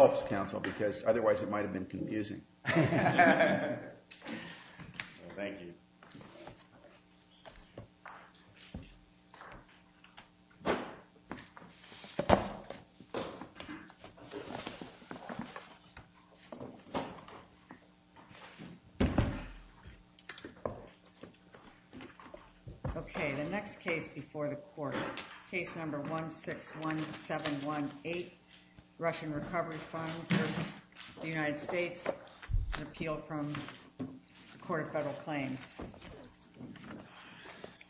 Helps Council, because otherwise it might have been confusing. Thank you. Okay, the next case before the court. Case number 161718, Russian Recovery Fund v. United States. It's an appeal from the Court of Federal Claims.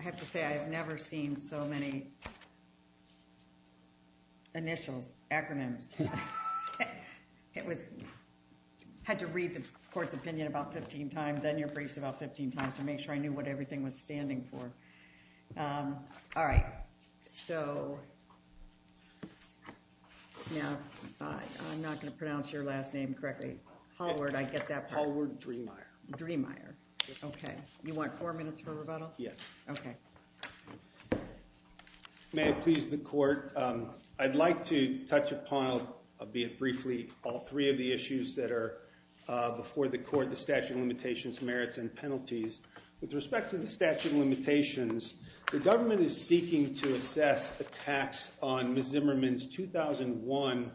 I have to say, I have never seen so many initials, acronyms. I had to read the court's opinion about 15 times and your briefs about 15 times to make sure I knew what everything was standing for. All right, so. Now, I'm not going to pronounce your last name correctly. Hallward, I get that part. Hallward Dreemeyer. Dreemeyer. Okay. You want four minutes for rebuttal? Yes. Okay. May it please the court. I'd like to touch upon, albeit briefly, all three of the issues that are before the court, the statute of limitations, merits, and penalties. With respect to the statute of limitations, the government is seeking to assess a tax on Ms. Zimmerman's 2001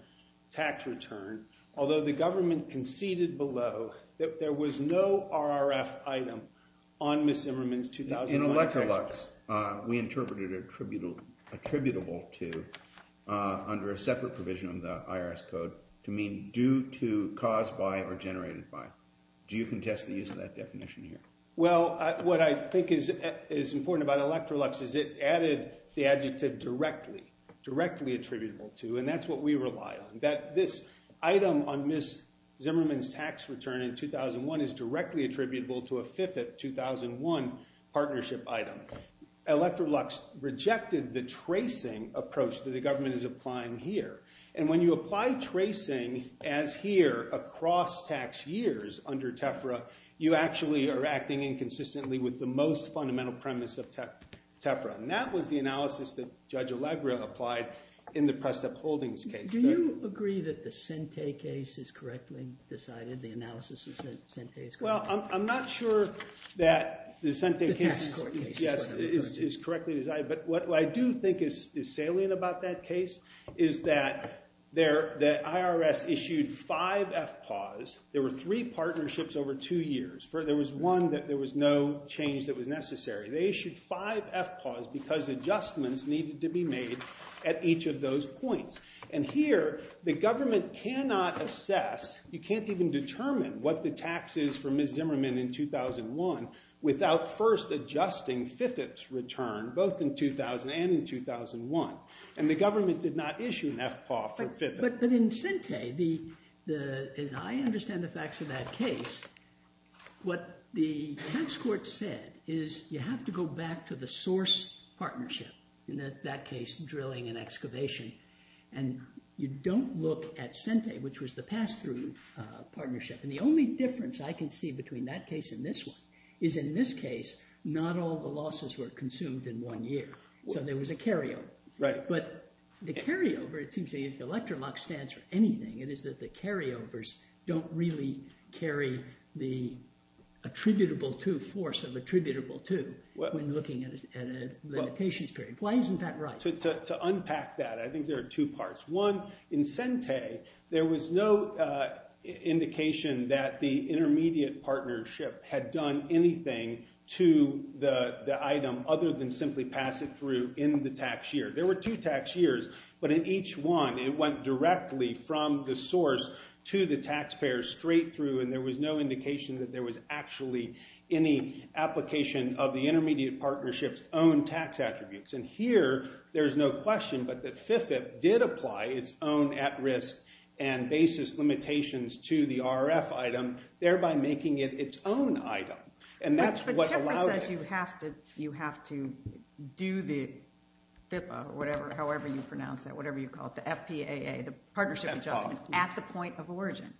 tax return, although the government conceded below that there was no RRF item on Ms. Zimmerman's 2001 tax return. In Electrolux, we interpreted attributable to, under a separate provision of the IRS code, to mean due to, caused by, or generated by. Do you contest the use of that definition here? Well, what I think is important about Electrolux is it added the adjective directly. Directly attributable to, and that's what we rely on. That this item on Ms. Zimmerman's tax return in 2001 is directly attributable to a fifth of 2001 partnership item. Electrolux rejected the tracing approach that the government is applying here. And when you apply tracing, as here, across tax years under TEFRA, you actually are acting inconsistently with the most fundamental premise of TEFRA. And that was the analysis that Judge Allegra applied in the Presta Holdings case. Do you agree that the Sente case is correctly decided, the analysis of Sente is correctly decided? Well, I'm not sure that the Sente case is correctly decided. But what I do think is salient about that case is that the IRS issued five FPAWs. There were three partnerships over two years. There was one that there was no change that was necessary. They issued five FPAWs because adjustments needed to be made at each of those points. And here the government cannot assess, you can't even determine what the tax is for Ms. Zimmerman in 2001 without first adjusting FIFIP's return both in 2000 and in 2001. And the government did not issue an FPAW for FIFIP. But in Sente, as I understand the facts of that case, what the tax court said is you have to go back to the source partnership. In that case, drilling and excavation. And you don't look at Sente, which was the pass-through partnership. And the only difference I can see between that case and this one is in this case not all the losses were consumed in one year. So there was a carryover. Right. But the carryover, it seems to me, if Electrolux stands for anything, it is that the carryovers don't really carry the attributable to force of attributable to when looking at a limitations period. Why isn't that right? To unpack that, I think there are two parts. One, in Sente, there was no indication that the intermediate partnership had done anything to the item other than simply pass it through in the tax year. There were two tax years. But in each one, it went directly from the source to the taxpayer straight through. And there was no indication that there was actually any application of the intermediate partnership's own tax attributes. And here there's no question but that FIFIP did apply its own at-risk and basis limitations to the RF item, thereby making it its own item. But CHIPRA says you have to do the FIPPA or whatever, however you pronounce that, whatever you call it, the FPAA, the Partnership Adjustment, at the point of origin.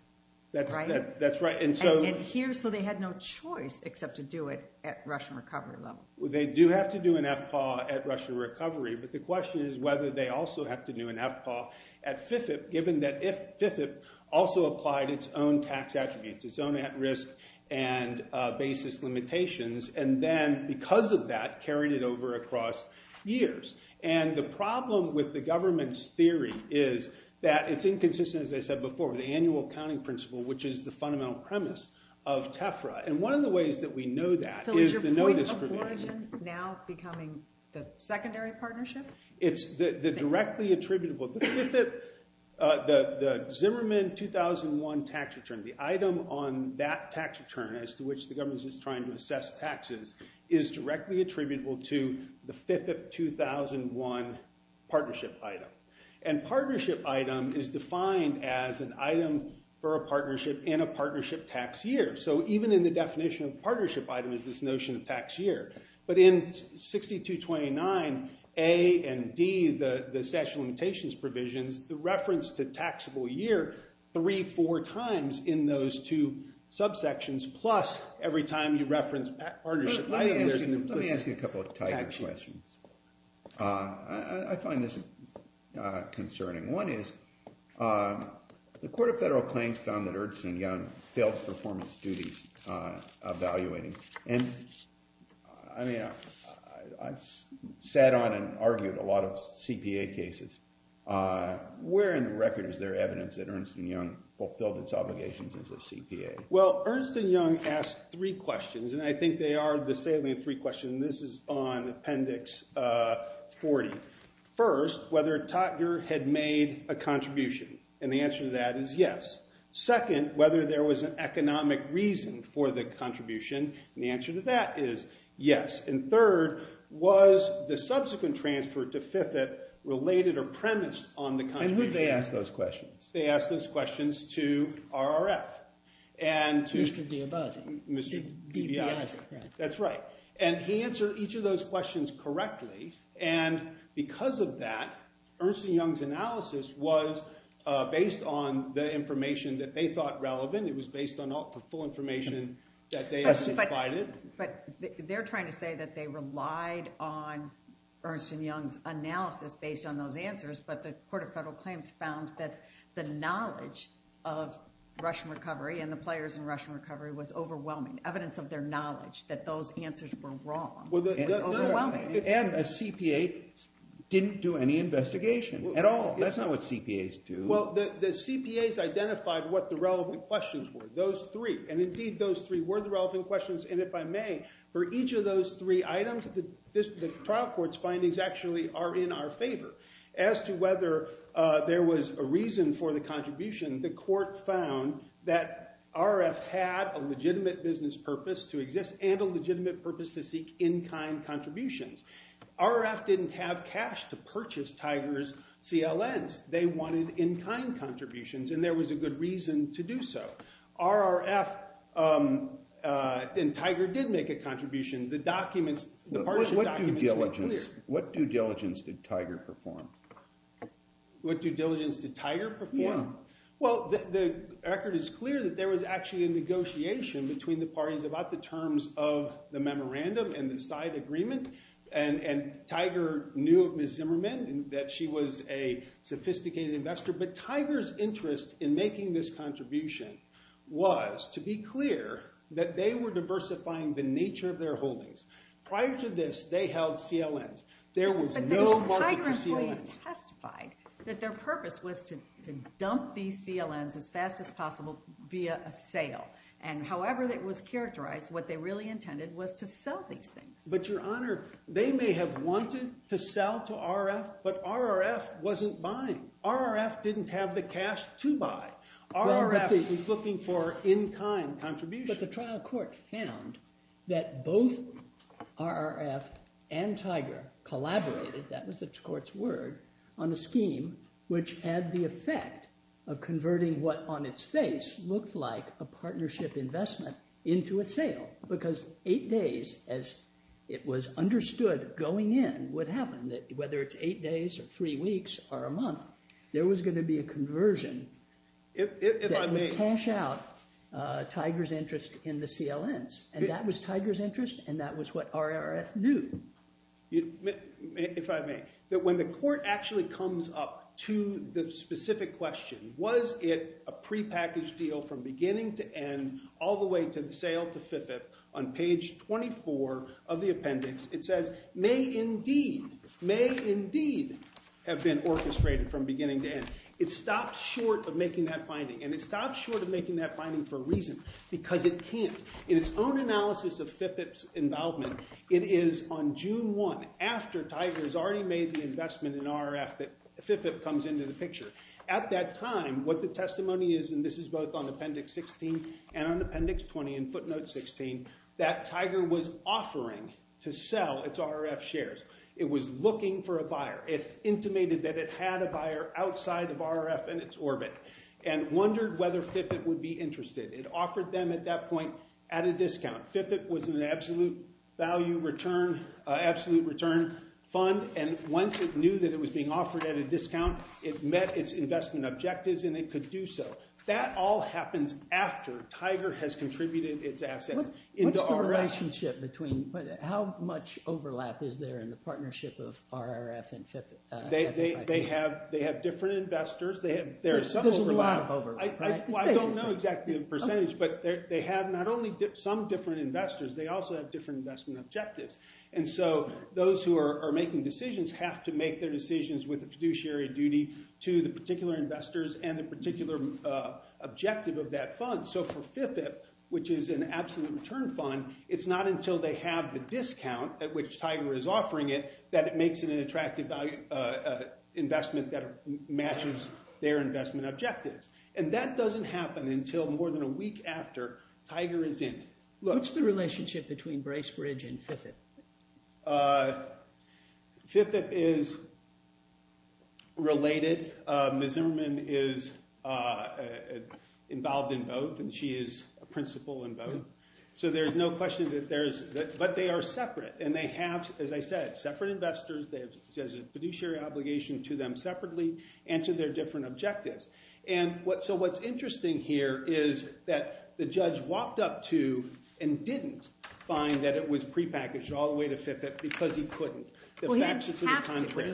That's right. And here, so they had no choice except to do it at Russian recovery level. They do have to do an FPAA at Russian recovery. But the question is whether they also have to do an FPAA at FIFIP, given that FIFIP also applied its own tax attributes, its own at-risk and basis limitations. And then because of that, carried it over across years. And the problem with the government's theory is that it's inconsistent, as I said before, with the annual accounting principle, which is the fundamental premise of TEFRA. And one of the ways that we know that is the notice provision. So is your point of origin now becoming the secondary partnership? It's the directly attributable. The Zimmerman 2001 tax return, the item on that tax return as to which the government is trying to assess taxes, is directly attributable to the FIFIP 2001 partnership item. And partnership item is defined as an item for a partnership in a partnership tax year. So even in the definition of partnership item is this notion of tax year. But in 6229A and D, the statute of limitations provisions, the reference to taxable year, three, four times in those two subsections, plus every time you reference partnership item, there's an implicit tax year. Let me ask you a couple of tighter questions. I find this concerning. One is the Court of Federal Claims found that Ernst & Young failed performance duties evaluating. And I mean, I've sat on and argued a lot of CPA cases. Where in the record is there evidence that Ernst & Young fulfilled its obligations as a CPA? Well, Ernst & Young asked three questions. And I think they are the salient three questions. And this is on Appendix 40. First, whether Totger had made a contribution. And the answer to that is yes. Second, whether there was an economic reason for the contribution. And the answer to that is yes. And third, was the subsequent transfer to FIFIP related or premised on the contribution? And who did they ask those questions? They asked those questions to RRF. And to Mr. DiBiase. That's right. And he answered each of those questions correctly. And because of that, Ernst & Young's analysis was based on the information that they thought relevant. It was based on the full information that they provided. But they're trying to say that they relied on Ernst & Young's analysis based on those answers. But the Court of Federal Claims found that the knowledge of Russian recovery and the players in Russian recovery was overwhelming. Evidence of their knowledge that those answers were wrong was overwhelming. And the CPA didn't do any investigation at all. That's not what CPAs do. Well, the CPAs identified what the relevant questions were. Those three. And indeed, those three were the relevant questions. And if I may, for each of those three items, the trial court's findings actually are in our favor. As to whether there was a reason for the contribution, the court found that RRF had a legitimate business purpose to exist and a legitimate purpose to seek in-kind contributions. RRF didn't have cash to purchase Tiger's CLNs. They wanted in-kind contributions, and there was a good reason to do so. RRF and Tiger did make a contribution. The documents, the partial documents were clear. What due diligence did Tiger perform? What due diligence did Tiger perform? Well, the record is clear that there was actually a negotiation between the parties about the terms of the memorandum and the side agreement. And Tiger knew of Ms. Zimmerman and that she was a sophisticated investor. But Tiger's interest in making this contribution was to be clear that they were diversifying the nature of their holdings. Prior to this, they held CLNs. There was no market for CLNs. And Tiger has testified that their purpose was to dump these CLNs as fast as possible via a sale. And however it was characterized, what they really intended was to sell these things. But, Your Honor, they may have wanted to sell to RRF, but RRF wasn't buying. RRF didn't have the cash to buy. RRF was looking for in-kind contributions. But the trial court found that both RRF and Tiger collaborated, that was the court's word, on a scheme which had the effect of converting what on its face looked like a partnership investment into a sale. Because eight days, as it was understood going in, would happen, whether it's eight days or three weeks or a month, there was going to be a conversion that would cash out Tiger's interest in the CLNs. And that was Tiger's interest, and that was what RRF knew. If I may, when the court actually comes up to the specific question, was it a prepackaged deal from beginning to end all the way to the sale to FIFIP on page 24 of the appendix, it says, may indeed, may indeed have been orchestrated from beginning to end. It stops short of making that finding, and it stops short of making that finding for a reason, because it can't. In its own analysis of FIFIP's involvement, it is on June 1, after Tiger has already made the investment in RRF, that FIFIP comes into the picture. At that time, what the testimony is, and this is both on appendix 16 and on appendix 20 and footnote 16, that Tiger was offering to sell its RRF shares. It was looking for a buyer. It intimated that it had a buyer outside of RRF and its orbit and wondered whether FIFIP would be interested. It offered them at that point at a discount. FIFIP was an absolute value return, absolute return fund, and once it knew that it was being offered at a discount, it met its investment objectives and it could do so. That all happens after Tiger has contributed its assets into RRF. What's the relationship between how much overlap is there in the partnership of RRF and FIFIP? They have different investors. There's a lot of overlap. I don't know exactly the percentage, but they have not only some different investors, they also have different investment objectives. And so those who are making decisions have to make their decisions with a fiduciary duty to the particular investors and the particular objective of that fund. So for FIFIP, which is an absolute return fund, it's not until they have the discount at which Tiger is offering it that it makes it an attractive investment that matches their investment objectives. And that doesn't happen until more than a week after Tiger is in. What's the relationship between Bracebridge and FIFIP? FIFIP is related. Ms. Zimmerman is involved in both and she is a principal in both. So there's no question that there's – but they are separate and they have, as I said, separate investors. There's a fiduciary obligation to them separately and to their different objectives. And so what's interesting here is that the judge walked up to and didn't find that it was prepackaged all the way to FIFIP because he couldn't. The facts are to the contrary.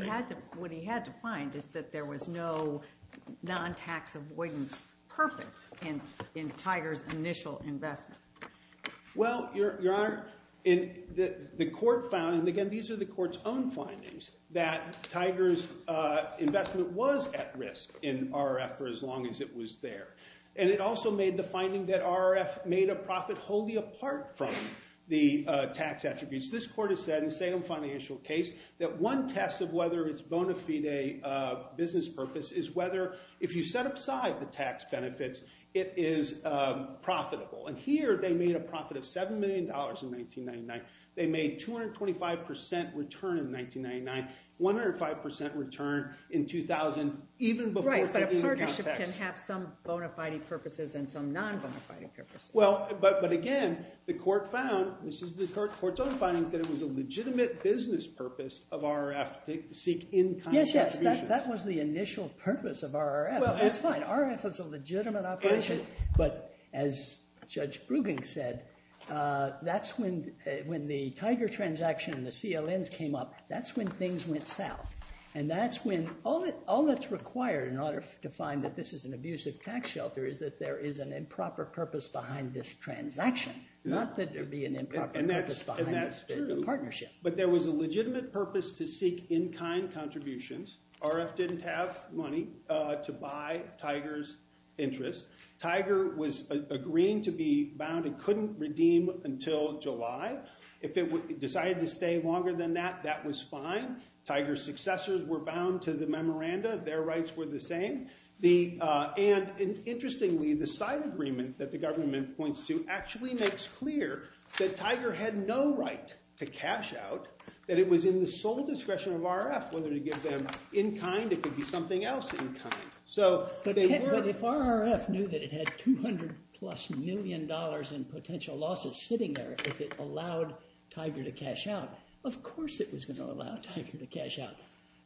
What he had to find is that there was no non-tax avoidance purpose in Tiger's initial investment. Well, Your Honor, the court found – and again, these are the court's own findings – that Tiger's investment was at risk in RRF for as long as it was there. And it also made the finding that RRF made a profit wholly apart from the tax attributes. This court has said in the Salem financial case that one test of whether it's bona fide business purpose is whether if you set aside the tax benefits, it is profitable. And here they made a profit of $7 million in 1999. They made 225% return in 1999, 105% return in 2000, even before taking account tax. Right, but a partnership can have some bona fide purposes and some non-bona fide purposes. Well, but again, the court found – this is the court's own findings – that it was a legitimate business purpose of RRF to seek in-kind contributions. Yes, yes. That was the initial purpose of RRF. That's fine. RRF was a legitimate operation. But as Judge Brueggen said, that's when the Tiger transaction and the CLNs came up. That's when things went south. And that's when – all that's required in order to find that this is an abusive tax shelter is that there is an improper purpose behind this transaction, not that there'd be an improper purpose behind the partnership. But there was a legitimate purpose to seek in-kind contributions. RRF didn't have money to buy Tiger's interest. Tiger was agreeing to be bound and couldn't redeem until July. If it decided to stay longer than that, that was fine. Tiger's successors were bound to the memoranda. Their rights were the same. And interestingly, the side agreement that the government points to actually makes clear that Tiger had no right to cash out, that it was in the sole discretion of RRF whether to give them in-kind. It could be something else in-kind. But if RRF knew that it had $200-plus million in potential losses sitting there, if it allowed Tiger to cash out, of course it was going to allow Tiger to cash out.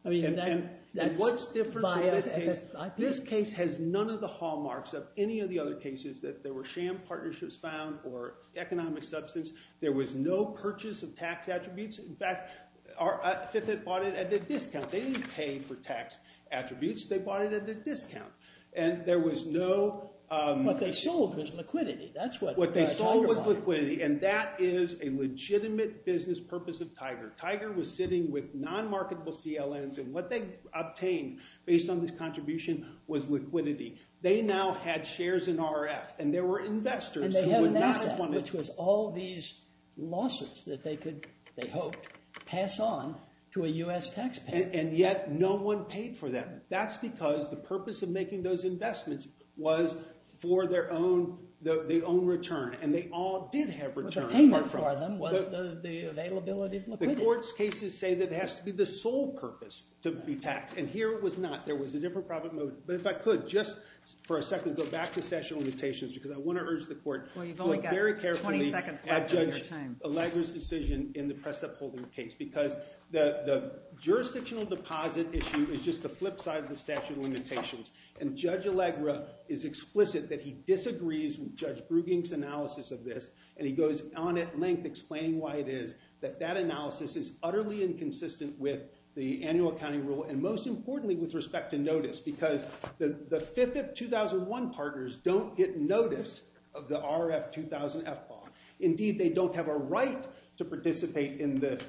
And what's different in this case? This case has none of the hallmarks of any of the other cases that there were sham partnerships found or economic substance. There was no purchase of tax attributes. In fact, FFIT bought it at a discount. They didn't pay for tax attributes. They bought it at a discount. And there was no— What they sold was liquidity. That's what Tiger bought. What they sold was liquidity, and that is a legitimate business purpose of Tiger. Tiger was sitting with non-marketable CLNs, and what they obtained based on this contribution was liquidity. They now had shares in RRF, and there were investors who would not want to— And they had an asset, which was all these losses that they could, they hoped, pass on to a U.S. taxpayer. And yet no one paid for them. That's because the purpose of making those investments was for their own return. And they all did have returns. The only payment for them was the availability of liquidity. The court's cases say that it has to be the sole purpose to be taxed, and here it was not. There was a different profit motive. But if I could just for a second go back to statute of limitations because I want to urge the court to look very carefully at Judge Allegra's decision in the press-upholding case because the jurisdictional deposit issue is just the flip side of the statute of limitations. And Judge Allegra is explicit that he disagrees with Judge Brueging's analysis of this, and he goes on at length explaining why it is that that analysis is utterly inconsistent with the annual accounting rule and most importantly with respect to notice because the 5th of 2001 partners don't get notice of the RRF 2000 FPAW. Indeed, they don't have a right to participate in the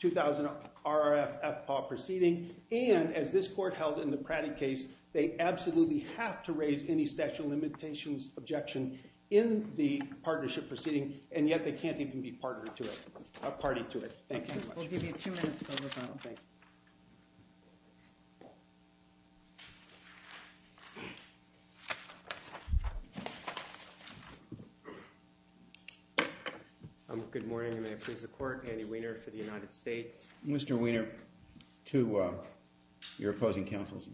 2000 RRF FPAW proceeding, and as this court held in the Pratty case, they absolutely have to raise any statute of limitations objection in the partnership proceeding, and yet they can't even be a party to it. Thank you very much. We'll give you two minutes to close up. Thank you. Good morning, and may I please the court. Andy Weiner for the United States. Mr. Weiner, to your opposing counsel's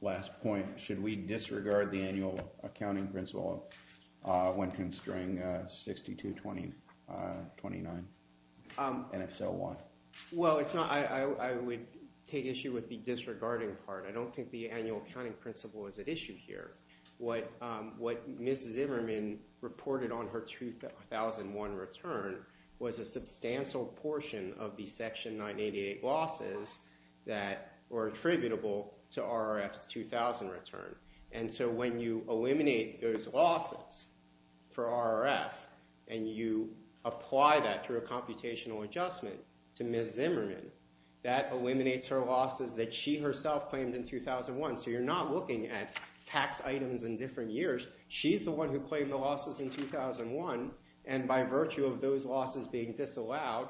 last point, should we disregard the annual accounting principle when constraining 6229, and if so, why? Well, I would take issue with the disregarding part. I don't think the annual accounting principle is at issue here. What Mrs. Zimmerman reported on her 2001 return was a substantial portion of the Section 988 losses that were attributable to RRF's 2000 return, and so when you eliminate those losses for RRF and you apply that through a computational adjustment to Mrs. Zimmerman, that eliminates her losses that she herself claimed in 2001, so you're not looking at tax items in different years. She's the one who claimed the losses in 2001, and by virtue of those losses being disallowed,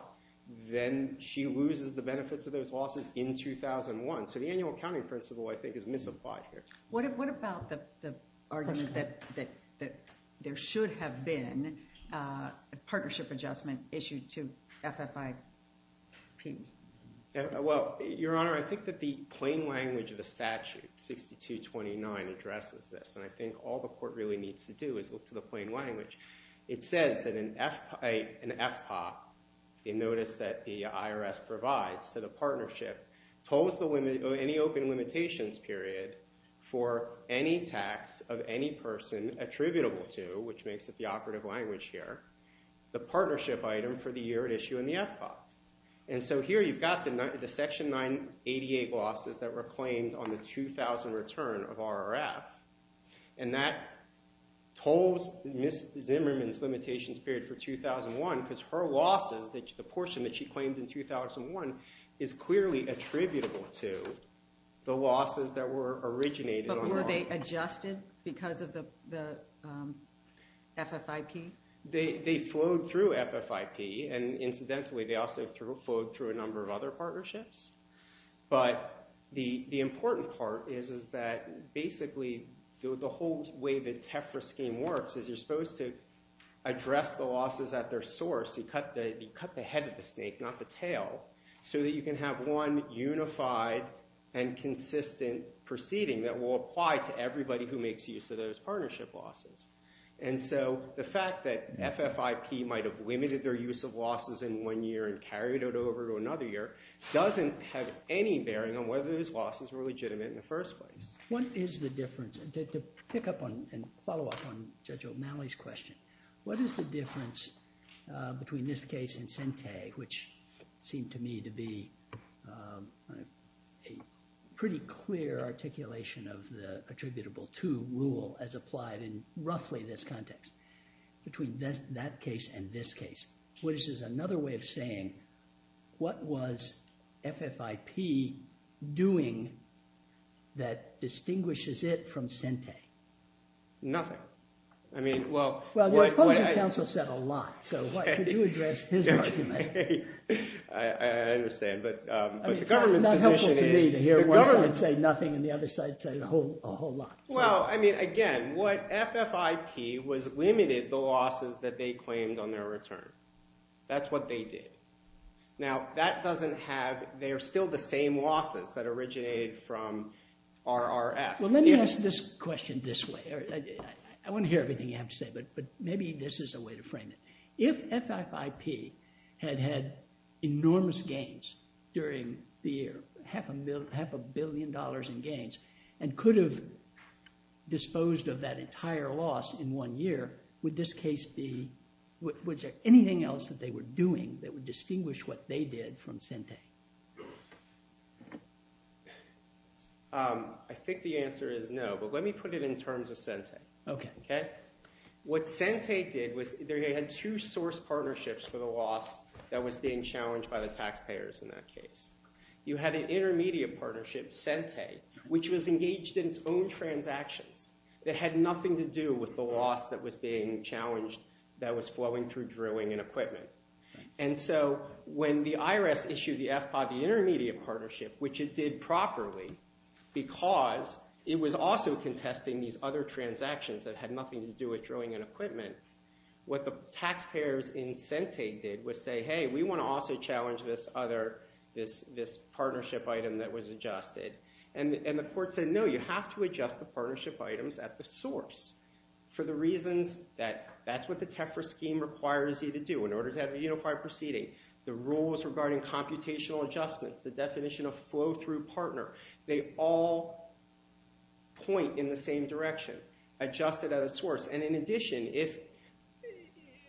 then she loses the benefits of those losses in 2001, so the annual accounting principle, I think, is misapplied here. What about the argument that there should have been a partnership adjustment issued to FFIP? Well, Your Honor, I think that the plain language of the statute, 6229, addresses this, and I think all the court really needs to do is look to the plain language. It says that an FPOP, notice that the IRS provides, that a partnership tolls any open limitations period for any tax of any person attributable to, which makes it the operative language here, the partnership item for the year at issue in the FPOP, and so here you've got the Section 988 losses that were claimed on the 2000 return of RRF, and that tolls Ms. Zimmerman's limitations period for 2001 because her losses, the portion that she claimed in 2001, is clearly attributable to the losses that were originated on RRF. But were they adjusted because of the FFIP? They flowed through FFIP, and incidentally, they also flowed through a number of other partnerships, but the important part is that basically the whole way the TEFRA scheme works is you're supposed to address the losses at their source. You cut the head of the snake, not the tail, so that you can have one unified and consistent proceeding that will apply to everybody who makes use of those partnership losses, and so the fact that FFIP might have limited their use of losses in one year and carried it over to another year doesn't have any bearing on whether those losses were legitimate in the first place. What is the difference? To pick up on and follow up on Judge O'Malley's question, what is the difference between this case and Sente, which seemed to me to be a pretty clear articulation of the attributable to rule as applied in roughly this context, between that case and this case? Which is another way of saying what was FFIP doing that distinguishes it from Sente? Nothing. Well, your opposing counsel said a lot, so could you address his argument? I understand, but the government's position is to hear one side say nothing and the other side say a whole lot. That's what they did. Now, that doesn't have, they're still the same losses that originated from RRF. Well, let me ask this question this way. I want to hear everything you have to say, but maybe this is a way to frame it. If FFIP had had enormous gains during the year, half a billion dollars in gains, and could have disposed of that entire loss in one year, would this case be, was there anything else that they were doing that would distinguish what they did from Sente? I think the answer is no, but let me put it in terms of Sente. What Sente did was they had two source partnerships for the loss that was being challenged by the taxpayers in that case. You had an intermediate partnership, Sente, which was engaged in its own transactions that had nothing to do with the loss that was being challenged that was flowing through drilling and equipment. And so when the IRS issued the FPA, the intermediate partnership, which it did properly because it was also contesting these other transactions that had nothing to do with drilling and equipment, what the taxpayers in Sente did was say, hey, we want to also challenge this other, this partnership item that was adjusted. And the court said, no, you have to adjust the partnership items at the source for the reasons that that's what the TEFRA scheme requires you to do in order to have a unified proceeding. The rules regarding computational adjustments, the definition of flow-through partner, they all point in the same direction, adjust it at a source. And in addition,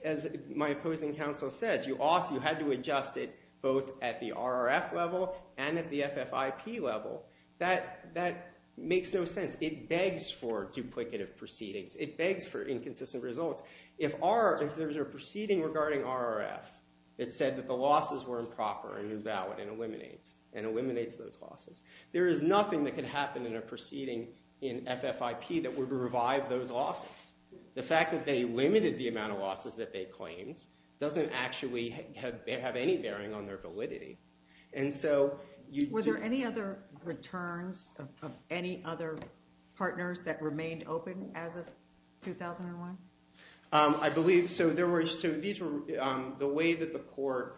as my opposing counsel says, you had to adjust it both at the RRF level and at the FFIP level. That makes no sense. It begs for duplicative proceedings. It begs for inconsistent results. If there's a proceeding regarding RRF that said that the losses were improper and invalid and eliminates those losses, there is nothing that could happen in a proceeding in FFIP that would revive those losses. The fact that they limited the amount of losses that they claimed doesn't actually have any bearing on their validity. Were there any other returns of any other partners that remained open as of 2001? I believe so. The way that the court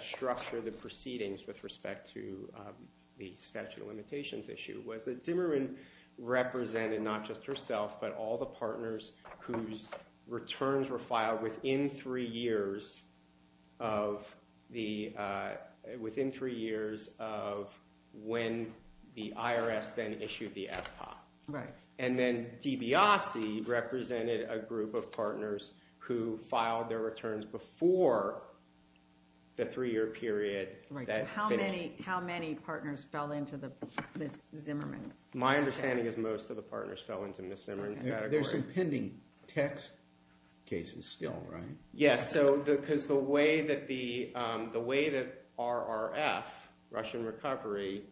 structured the proceedings with respect to the statute of limitations issue was that Zimmerman represented not just herself but all the partners whose returns were filed within three years of when the IRS then issued the FPA. And then DiBiase represented a group of partners who filed their returns before the three-year period that finished. How many partners fell into Ms. Zimmerman's category? My understanding is most of the partners fell into Ms. Zimmerman's category. There's some pending text cases still, right? Yes, because the way that RRF, Russian Recovery,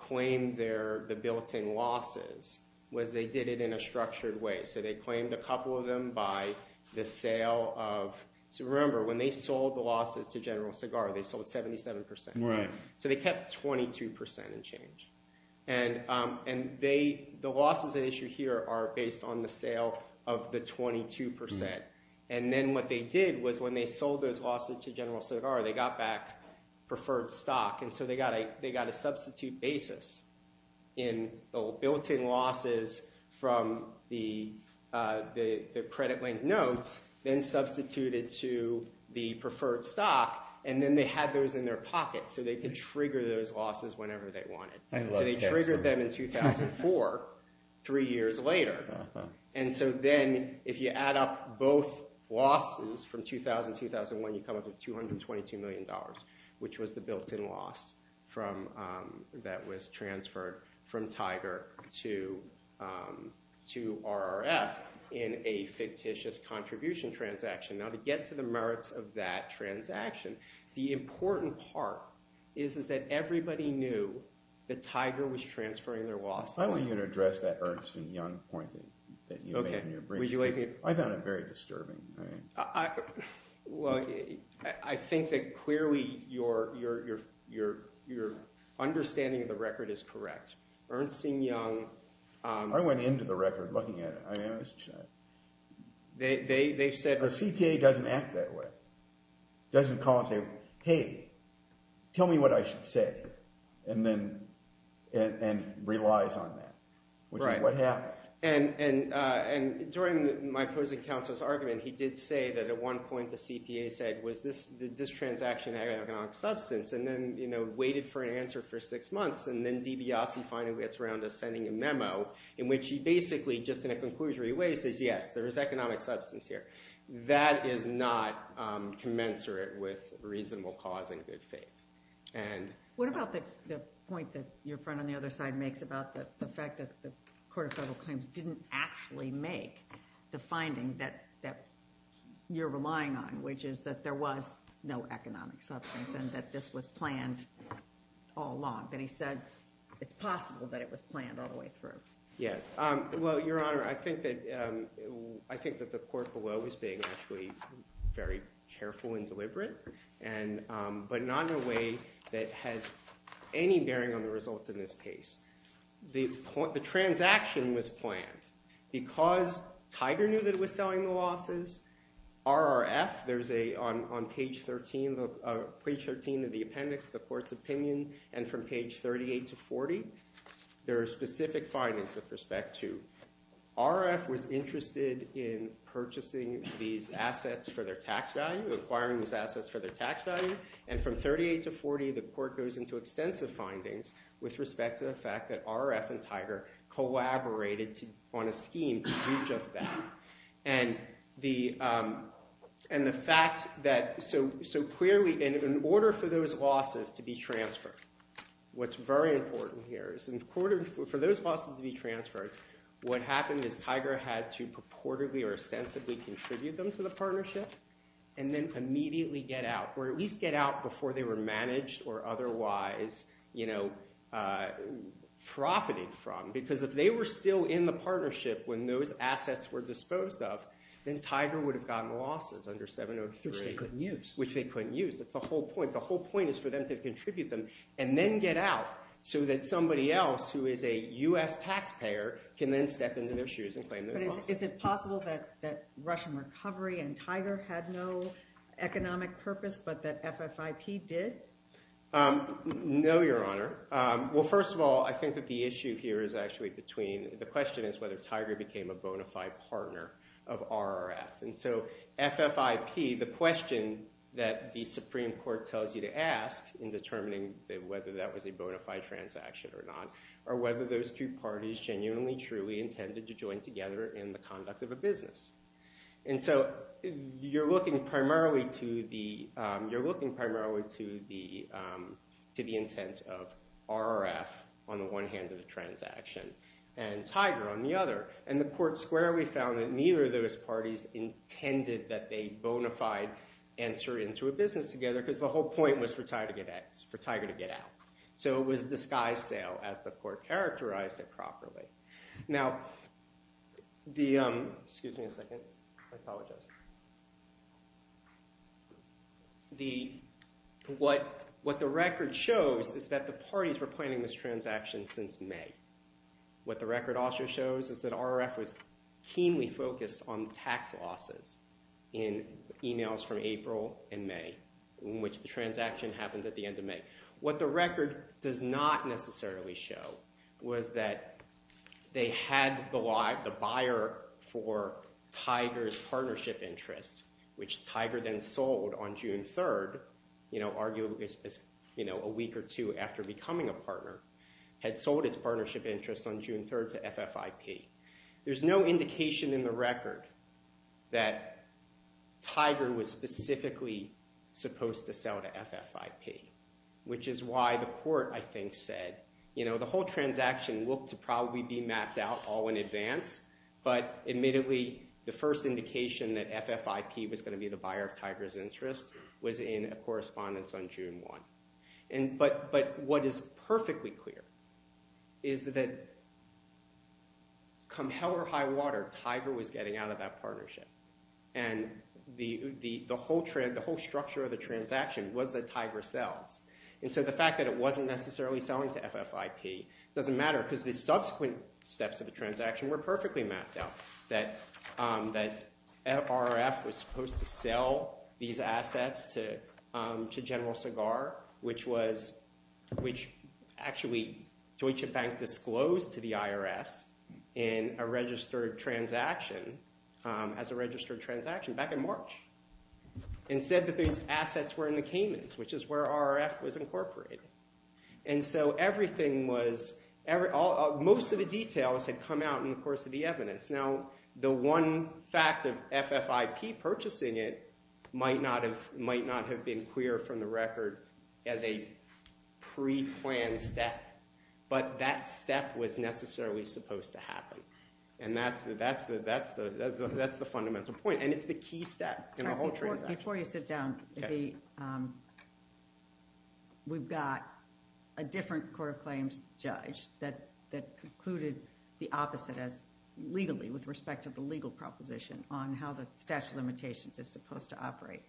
claimed the built-in losses was they did it in a structured way. So they claimed a couple of them by the sale of... So remember, when they sold the losses to General Segar, they sold 77%. So they kept 22% and changed. And the losses at issue here are based on the sale of the 22%. And then what they did was when they sold those losses to General Segar, they got back preferred stock. And so they got a substitute basis in the built-in losses from the credit-length notes, then substituted to the preferred stock, and then they had those in their pocket so they could trigger those losses whenever they wanted. So they triggered them in 2004, three years later. And so then if you add up both losses from 2000-2001, you come up with $222 million, which was the built-in loss that was transferred from TIGER to RRF in a fictitious contribution transaction. Now, to get to the merits of that transaction, the important part is that everybody knew that TIGER was transferring their loss. I want you to address that Ernst & Young point that you made in your brief. I found it very disturbing. Well, I think that clearly your understanding of the record is correct. Ernst & Young... I went into the record looking at it. They've said... The CPA doesn't act that way. Doesn't call and say, hey, tell me what I should say, and then relies on that, which is what happened. And during my opposing counsel's argument, he did say that at one point the CPA said, was this transaction an economic substance, and then waited for an answer for six months, and then DiBiase finally gets around to sending a memo in which he basically, just in a conclusory way, says, yes, there is economic substance here. That is not commensurate with reasonable cause and good faith. What about the point that your friend on the other side makes about the fact that the Court of Federal Claims didn't actually make the finding that you're relying on, which is that there was no economic substance and that this was planned all along, that he said it's possible that it was planned all the way through? Well, Your Honor, I think that the court below is being actually very careful and deliberate, but not in a way that has any bearing on the results in this case. The transaction was planned because Tiger knew that it was selling the losses. RRF, there's a, on page 13 of the appendix, the court's opinion, and from page 38 to 40, there are specific findings with respect to RRF was interested in purchasing these assets for their tax value, acquiring these assets for their tax value, and from 38 to 40, the court goes into extensive findings with respect to the fact that RRF and Tiger collaborated on a scheme to do just that. And the fact that, so clearly, in order for those losses to be transferred, what's very important here is, in order for those losses to be transferred, what happened is Tiger had to purportedly or ostensibly contribute them to the partnership and then immediately get out, or at least get out before they were managed or otherwise, you know, profited from. Because if they were still in the partnership when those assets were disposed of, then Tiger would have gotten losses under 703. Which they couldn't use. Which they couldn't use. That's the whole point. The whole point is for them to contribute them and then get out so that somebody else who is a U.S. taxpayer can then step into their shoes and claim those losses. But is it possible that Russian recovery and Tiger had no economic purpose but that FFIP did? No, Your Honor. Well, first of all, I think that the issue here is actually between, the question is whether Tiger became a bona fide partner of RRF. And so FFIP, the question that the Supreme Court tells you to ask in determining whether that was a bona fide transaction or not, or whether those two parties genuinely, truly intended to join together in the conduct of a business. And so you're looking primarily to the intent of RRF on the one hand of the transaction and Tiger on the other. And the court squarely found that neither of those parties intended that they bona fide enter into a business together because the whole point was for Tiger to get out. So it was a disguise sale as the court characterized it properly. Now, what the record shows is that the parties were planning this transaction since May. What the record also shows is that RRF was keenly focused on tax losses in emails from April and May, in which the transaction happens at the end of May. What the record does not necessarily show was that they had the buyer for Tiger's partnership interest, which Tiger then sold on June 3rd, arguably a week or two after becoming a partner, had sold its partnership interest on June 3rd to FFIP. There's no indication in the record that Tiger was specifically supposed to sell to FFIP, which is why the court, I think, said, the whole transaction looked to probably be mapped out all in advance. But admittedly, the first indication that FFIP was going to be the buyer of Tiger's interest was in a correspondence on June 1. But what is perfectly clear is that come hell or high water, Tiger was getting out of that partnership. And the whole structure of the transaction was that Tiger sells. And so the fact that it wasn't necessarily selling to FFIP doesn't matter because the subsequent steps of the transaction were perfectly mapped out, that RRF was supposed to sell these assets to General Segar, which actually Deutsche Bank disclosed to the IRS in a registered transaction as a registered transaction back in March and said that these assets were in the Caymans, which is where RRF was incorporated. And so most of the details had come out in the course of the evidence. Now, the one fact of FFIP purchasing it might not have been clear from the record as a pre-planned step. But that step was necessarily supposed to happen. And that's the fundamental point. And it's the key step in the whole transaction. Before you sit down, we've got a different court of claims judge that concluded the opposite legally with respect to the legal proposition on how the statute of limitations is supposed to operate.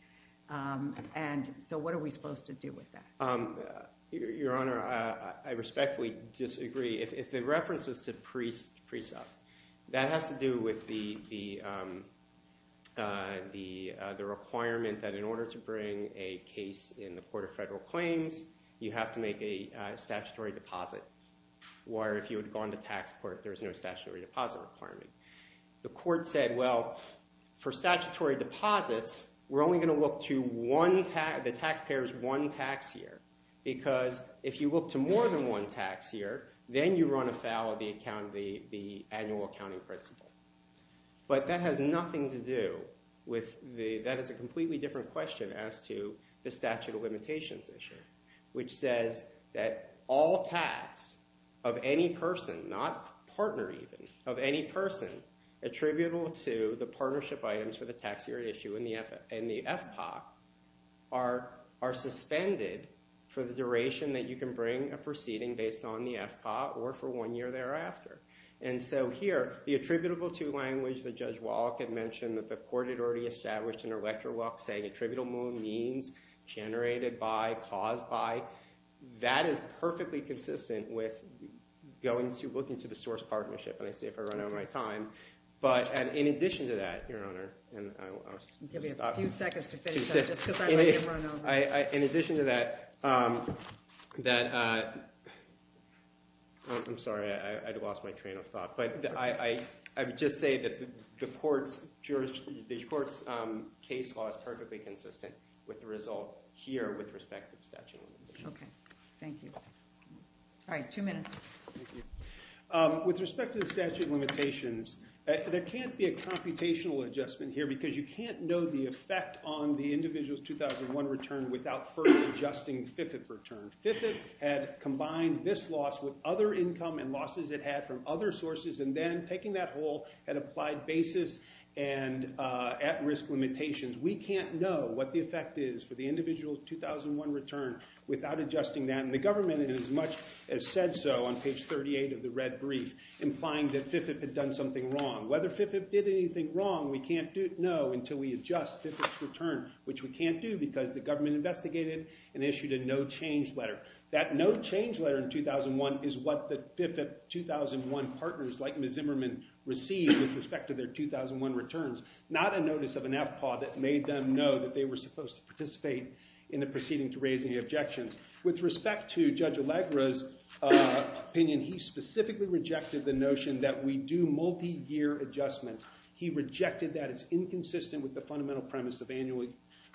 And so what are we supposed to do with that? Your Honor, I respectfully disagree. If the reference was to pre-sub, that has to do with the requirement that in order to bring a case in the court of federal claims, you have to make a statutory deposit. Where if you had gone to tax court, there's no statutory deposit requirement. The court said, well, for statutory deposits, we're only going to look to the taxpayer's one tax year. Because if you look to more than one tax year, then you run afoul of the annual accounting principle. But that has nothing to do with the, that is a completely different question as to the statute of limitations issue, which says that all tax of any person, not partner even, of any person attributable to the partnership items for the tax year issue in the FPOC are suspended for the duration that you can bring a proceeding based on the FPOC or for one year thereafter. And so here, the attributable to language that Judge Wallach had mentioned that the court had already established in her lecture walk saying attributable means generated by, caused by, that is perfectly consistent with looking to the source partnership. And I see if I run out of my time. In addition to that, Your Honor, and I'll stop. I'll give you a few seconds to finish up, just because I'm ready to run over. In addition to that, that, I'm sorry, I lost my train of thought. But I would just say that the court's case law is perfectly consistent with the result here with respect to the statute of limitations. OK. Thank you. All right, two minutes. With respect to the statute of limitations, there can't be a computational adjustment here, because you can't know the effect on the individual's 2001 return without first adjusting the FIFIP return. FIFIP had combined this loss with other income and losses it had from other sources. And then taking that whole and applied basis and at-risk limitations, we can't know what the effect is for the individual's 2001 return without adjusting that. And the government, as much as said so on page 38 of the red brief, implying that FIFIP had done something wrong. Whether FIFIP did anything wrong, we can't know until we adjust FIFIP's return, which we can't do, because the government investigated and issued a no-change letter. That no-change letter in 2001 is what the FIFIP 2001 partners, like Ms. Zimmerman, received with respect to their 2001 returns, not a notice of an FPAW that made them know that they were supposed to participate in the proceeding to raise any objections. With respect to Judge Allegra's opinion, he specifically rejected the notion that we do multi-year adjustments. He rejected that as inconsistent with the fundamental premise of annual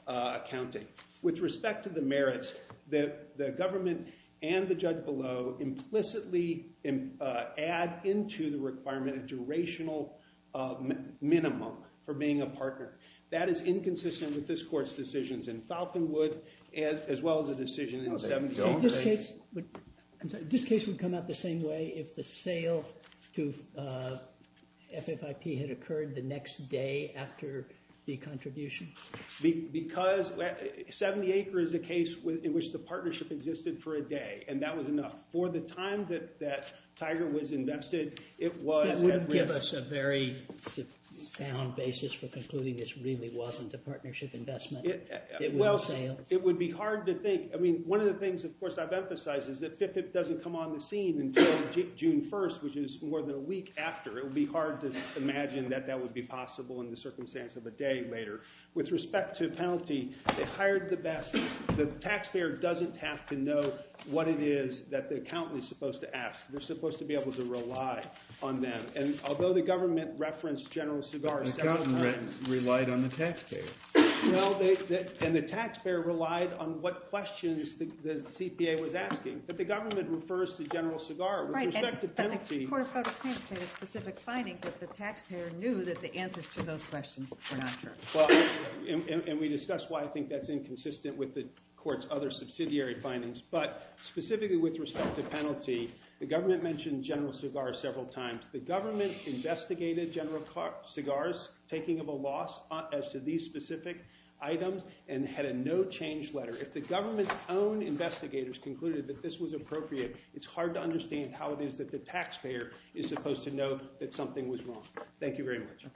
accounting. With respect to the merits, the government and the judge below implicitly add into the requirement a durational minimum for being a partner. That is inconsistent with this court's decisions in Falconwood, as well as the decision in 70 Acres. This case would come out the same way if the sale to FFIP had occurred the next day after the contribution? Because 70 Acres is a case in which the partnership existed for a day, and that was enough. For the time that Tiger Woods invested, it was at risk. It wouldn't give us a very sound basis for concluding this really wasn't a partnership investment. It was a sale. Well, it would be hard to think. One of the things, of course, I've emphasized is that FFIP doesn't come on the scene until June 1st, which is more than a week after. It would be hard to imagine that that would be possible in the circumstance of a day later. With respect to penalty, they hired the best. The taxpayer doesn't have to know what it is that the accountant is supposed to ask. They're supposed to be able to rely on them. And although the government referenced General Segar several times. The accountant relied on the taxpayer. Well, and the taxpayer relied on what questions the CPA was asking. But the government refers to General Segar. With respect to penalty. Right, but the Court of Federal Claims made a specific finding that the taxpayer knew that the answers to those questions were not true. Well, and we discussed why I think that's inconsistent with the court's other subsidiary findings. But specifically with respect to penalty, the government mentioned General Segar several times. The government investigated General Segar's taking of a loss as to these specific items and had a no change letter. If the government's own investigators concluded that this was appropriate, it's hard to understand how it is that the taxpayer is supposed to know that something was wrong. Thank you very much.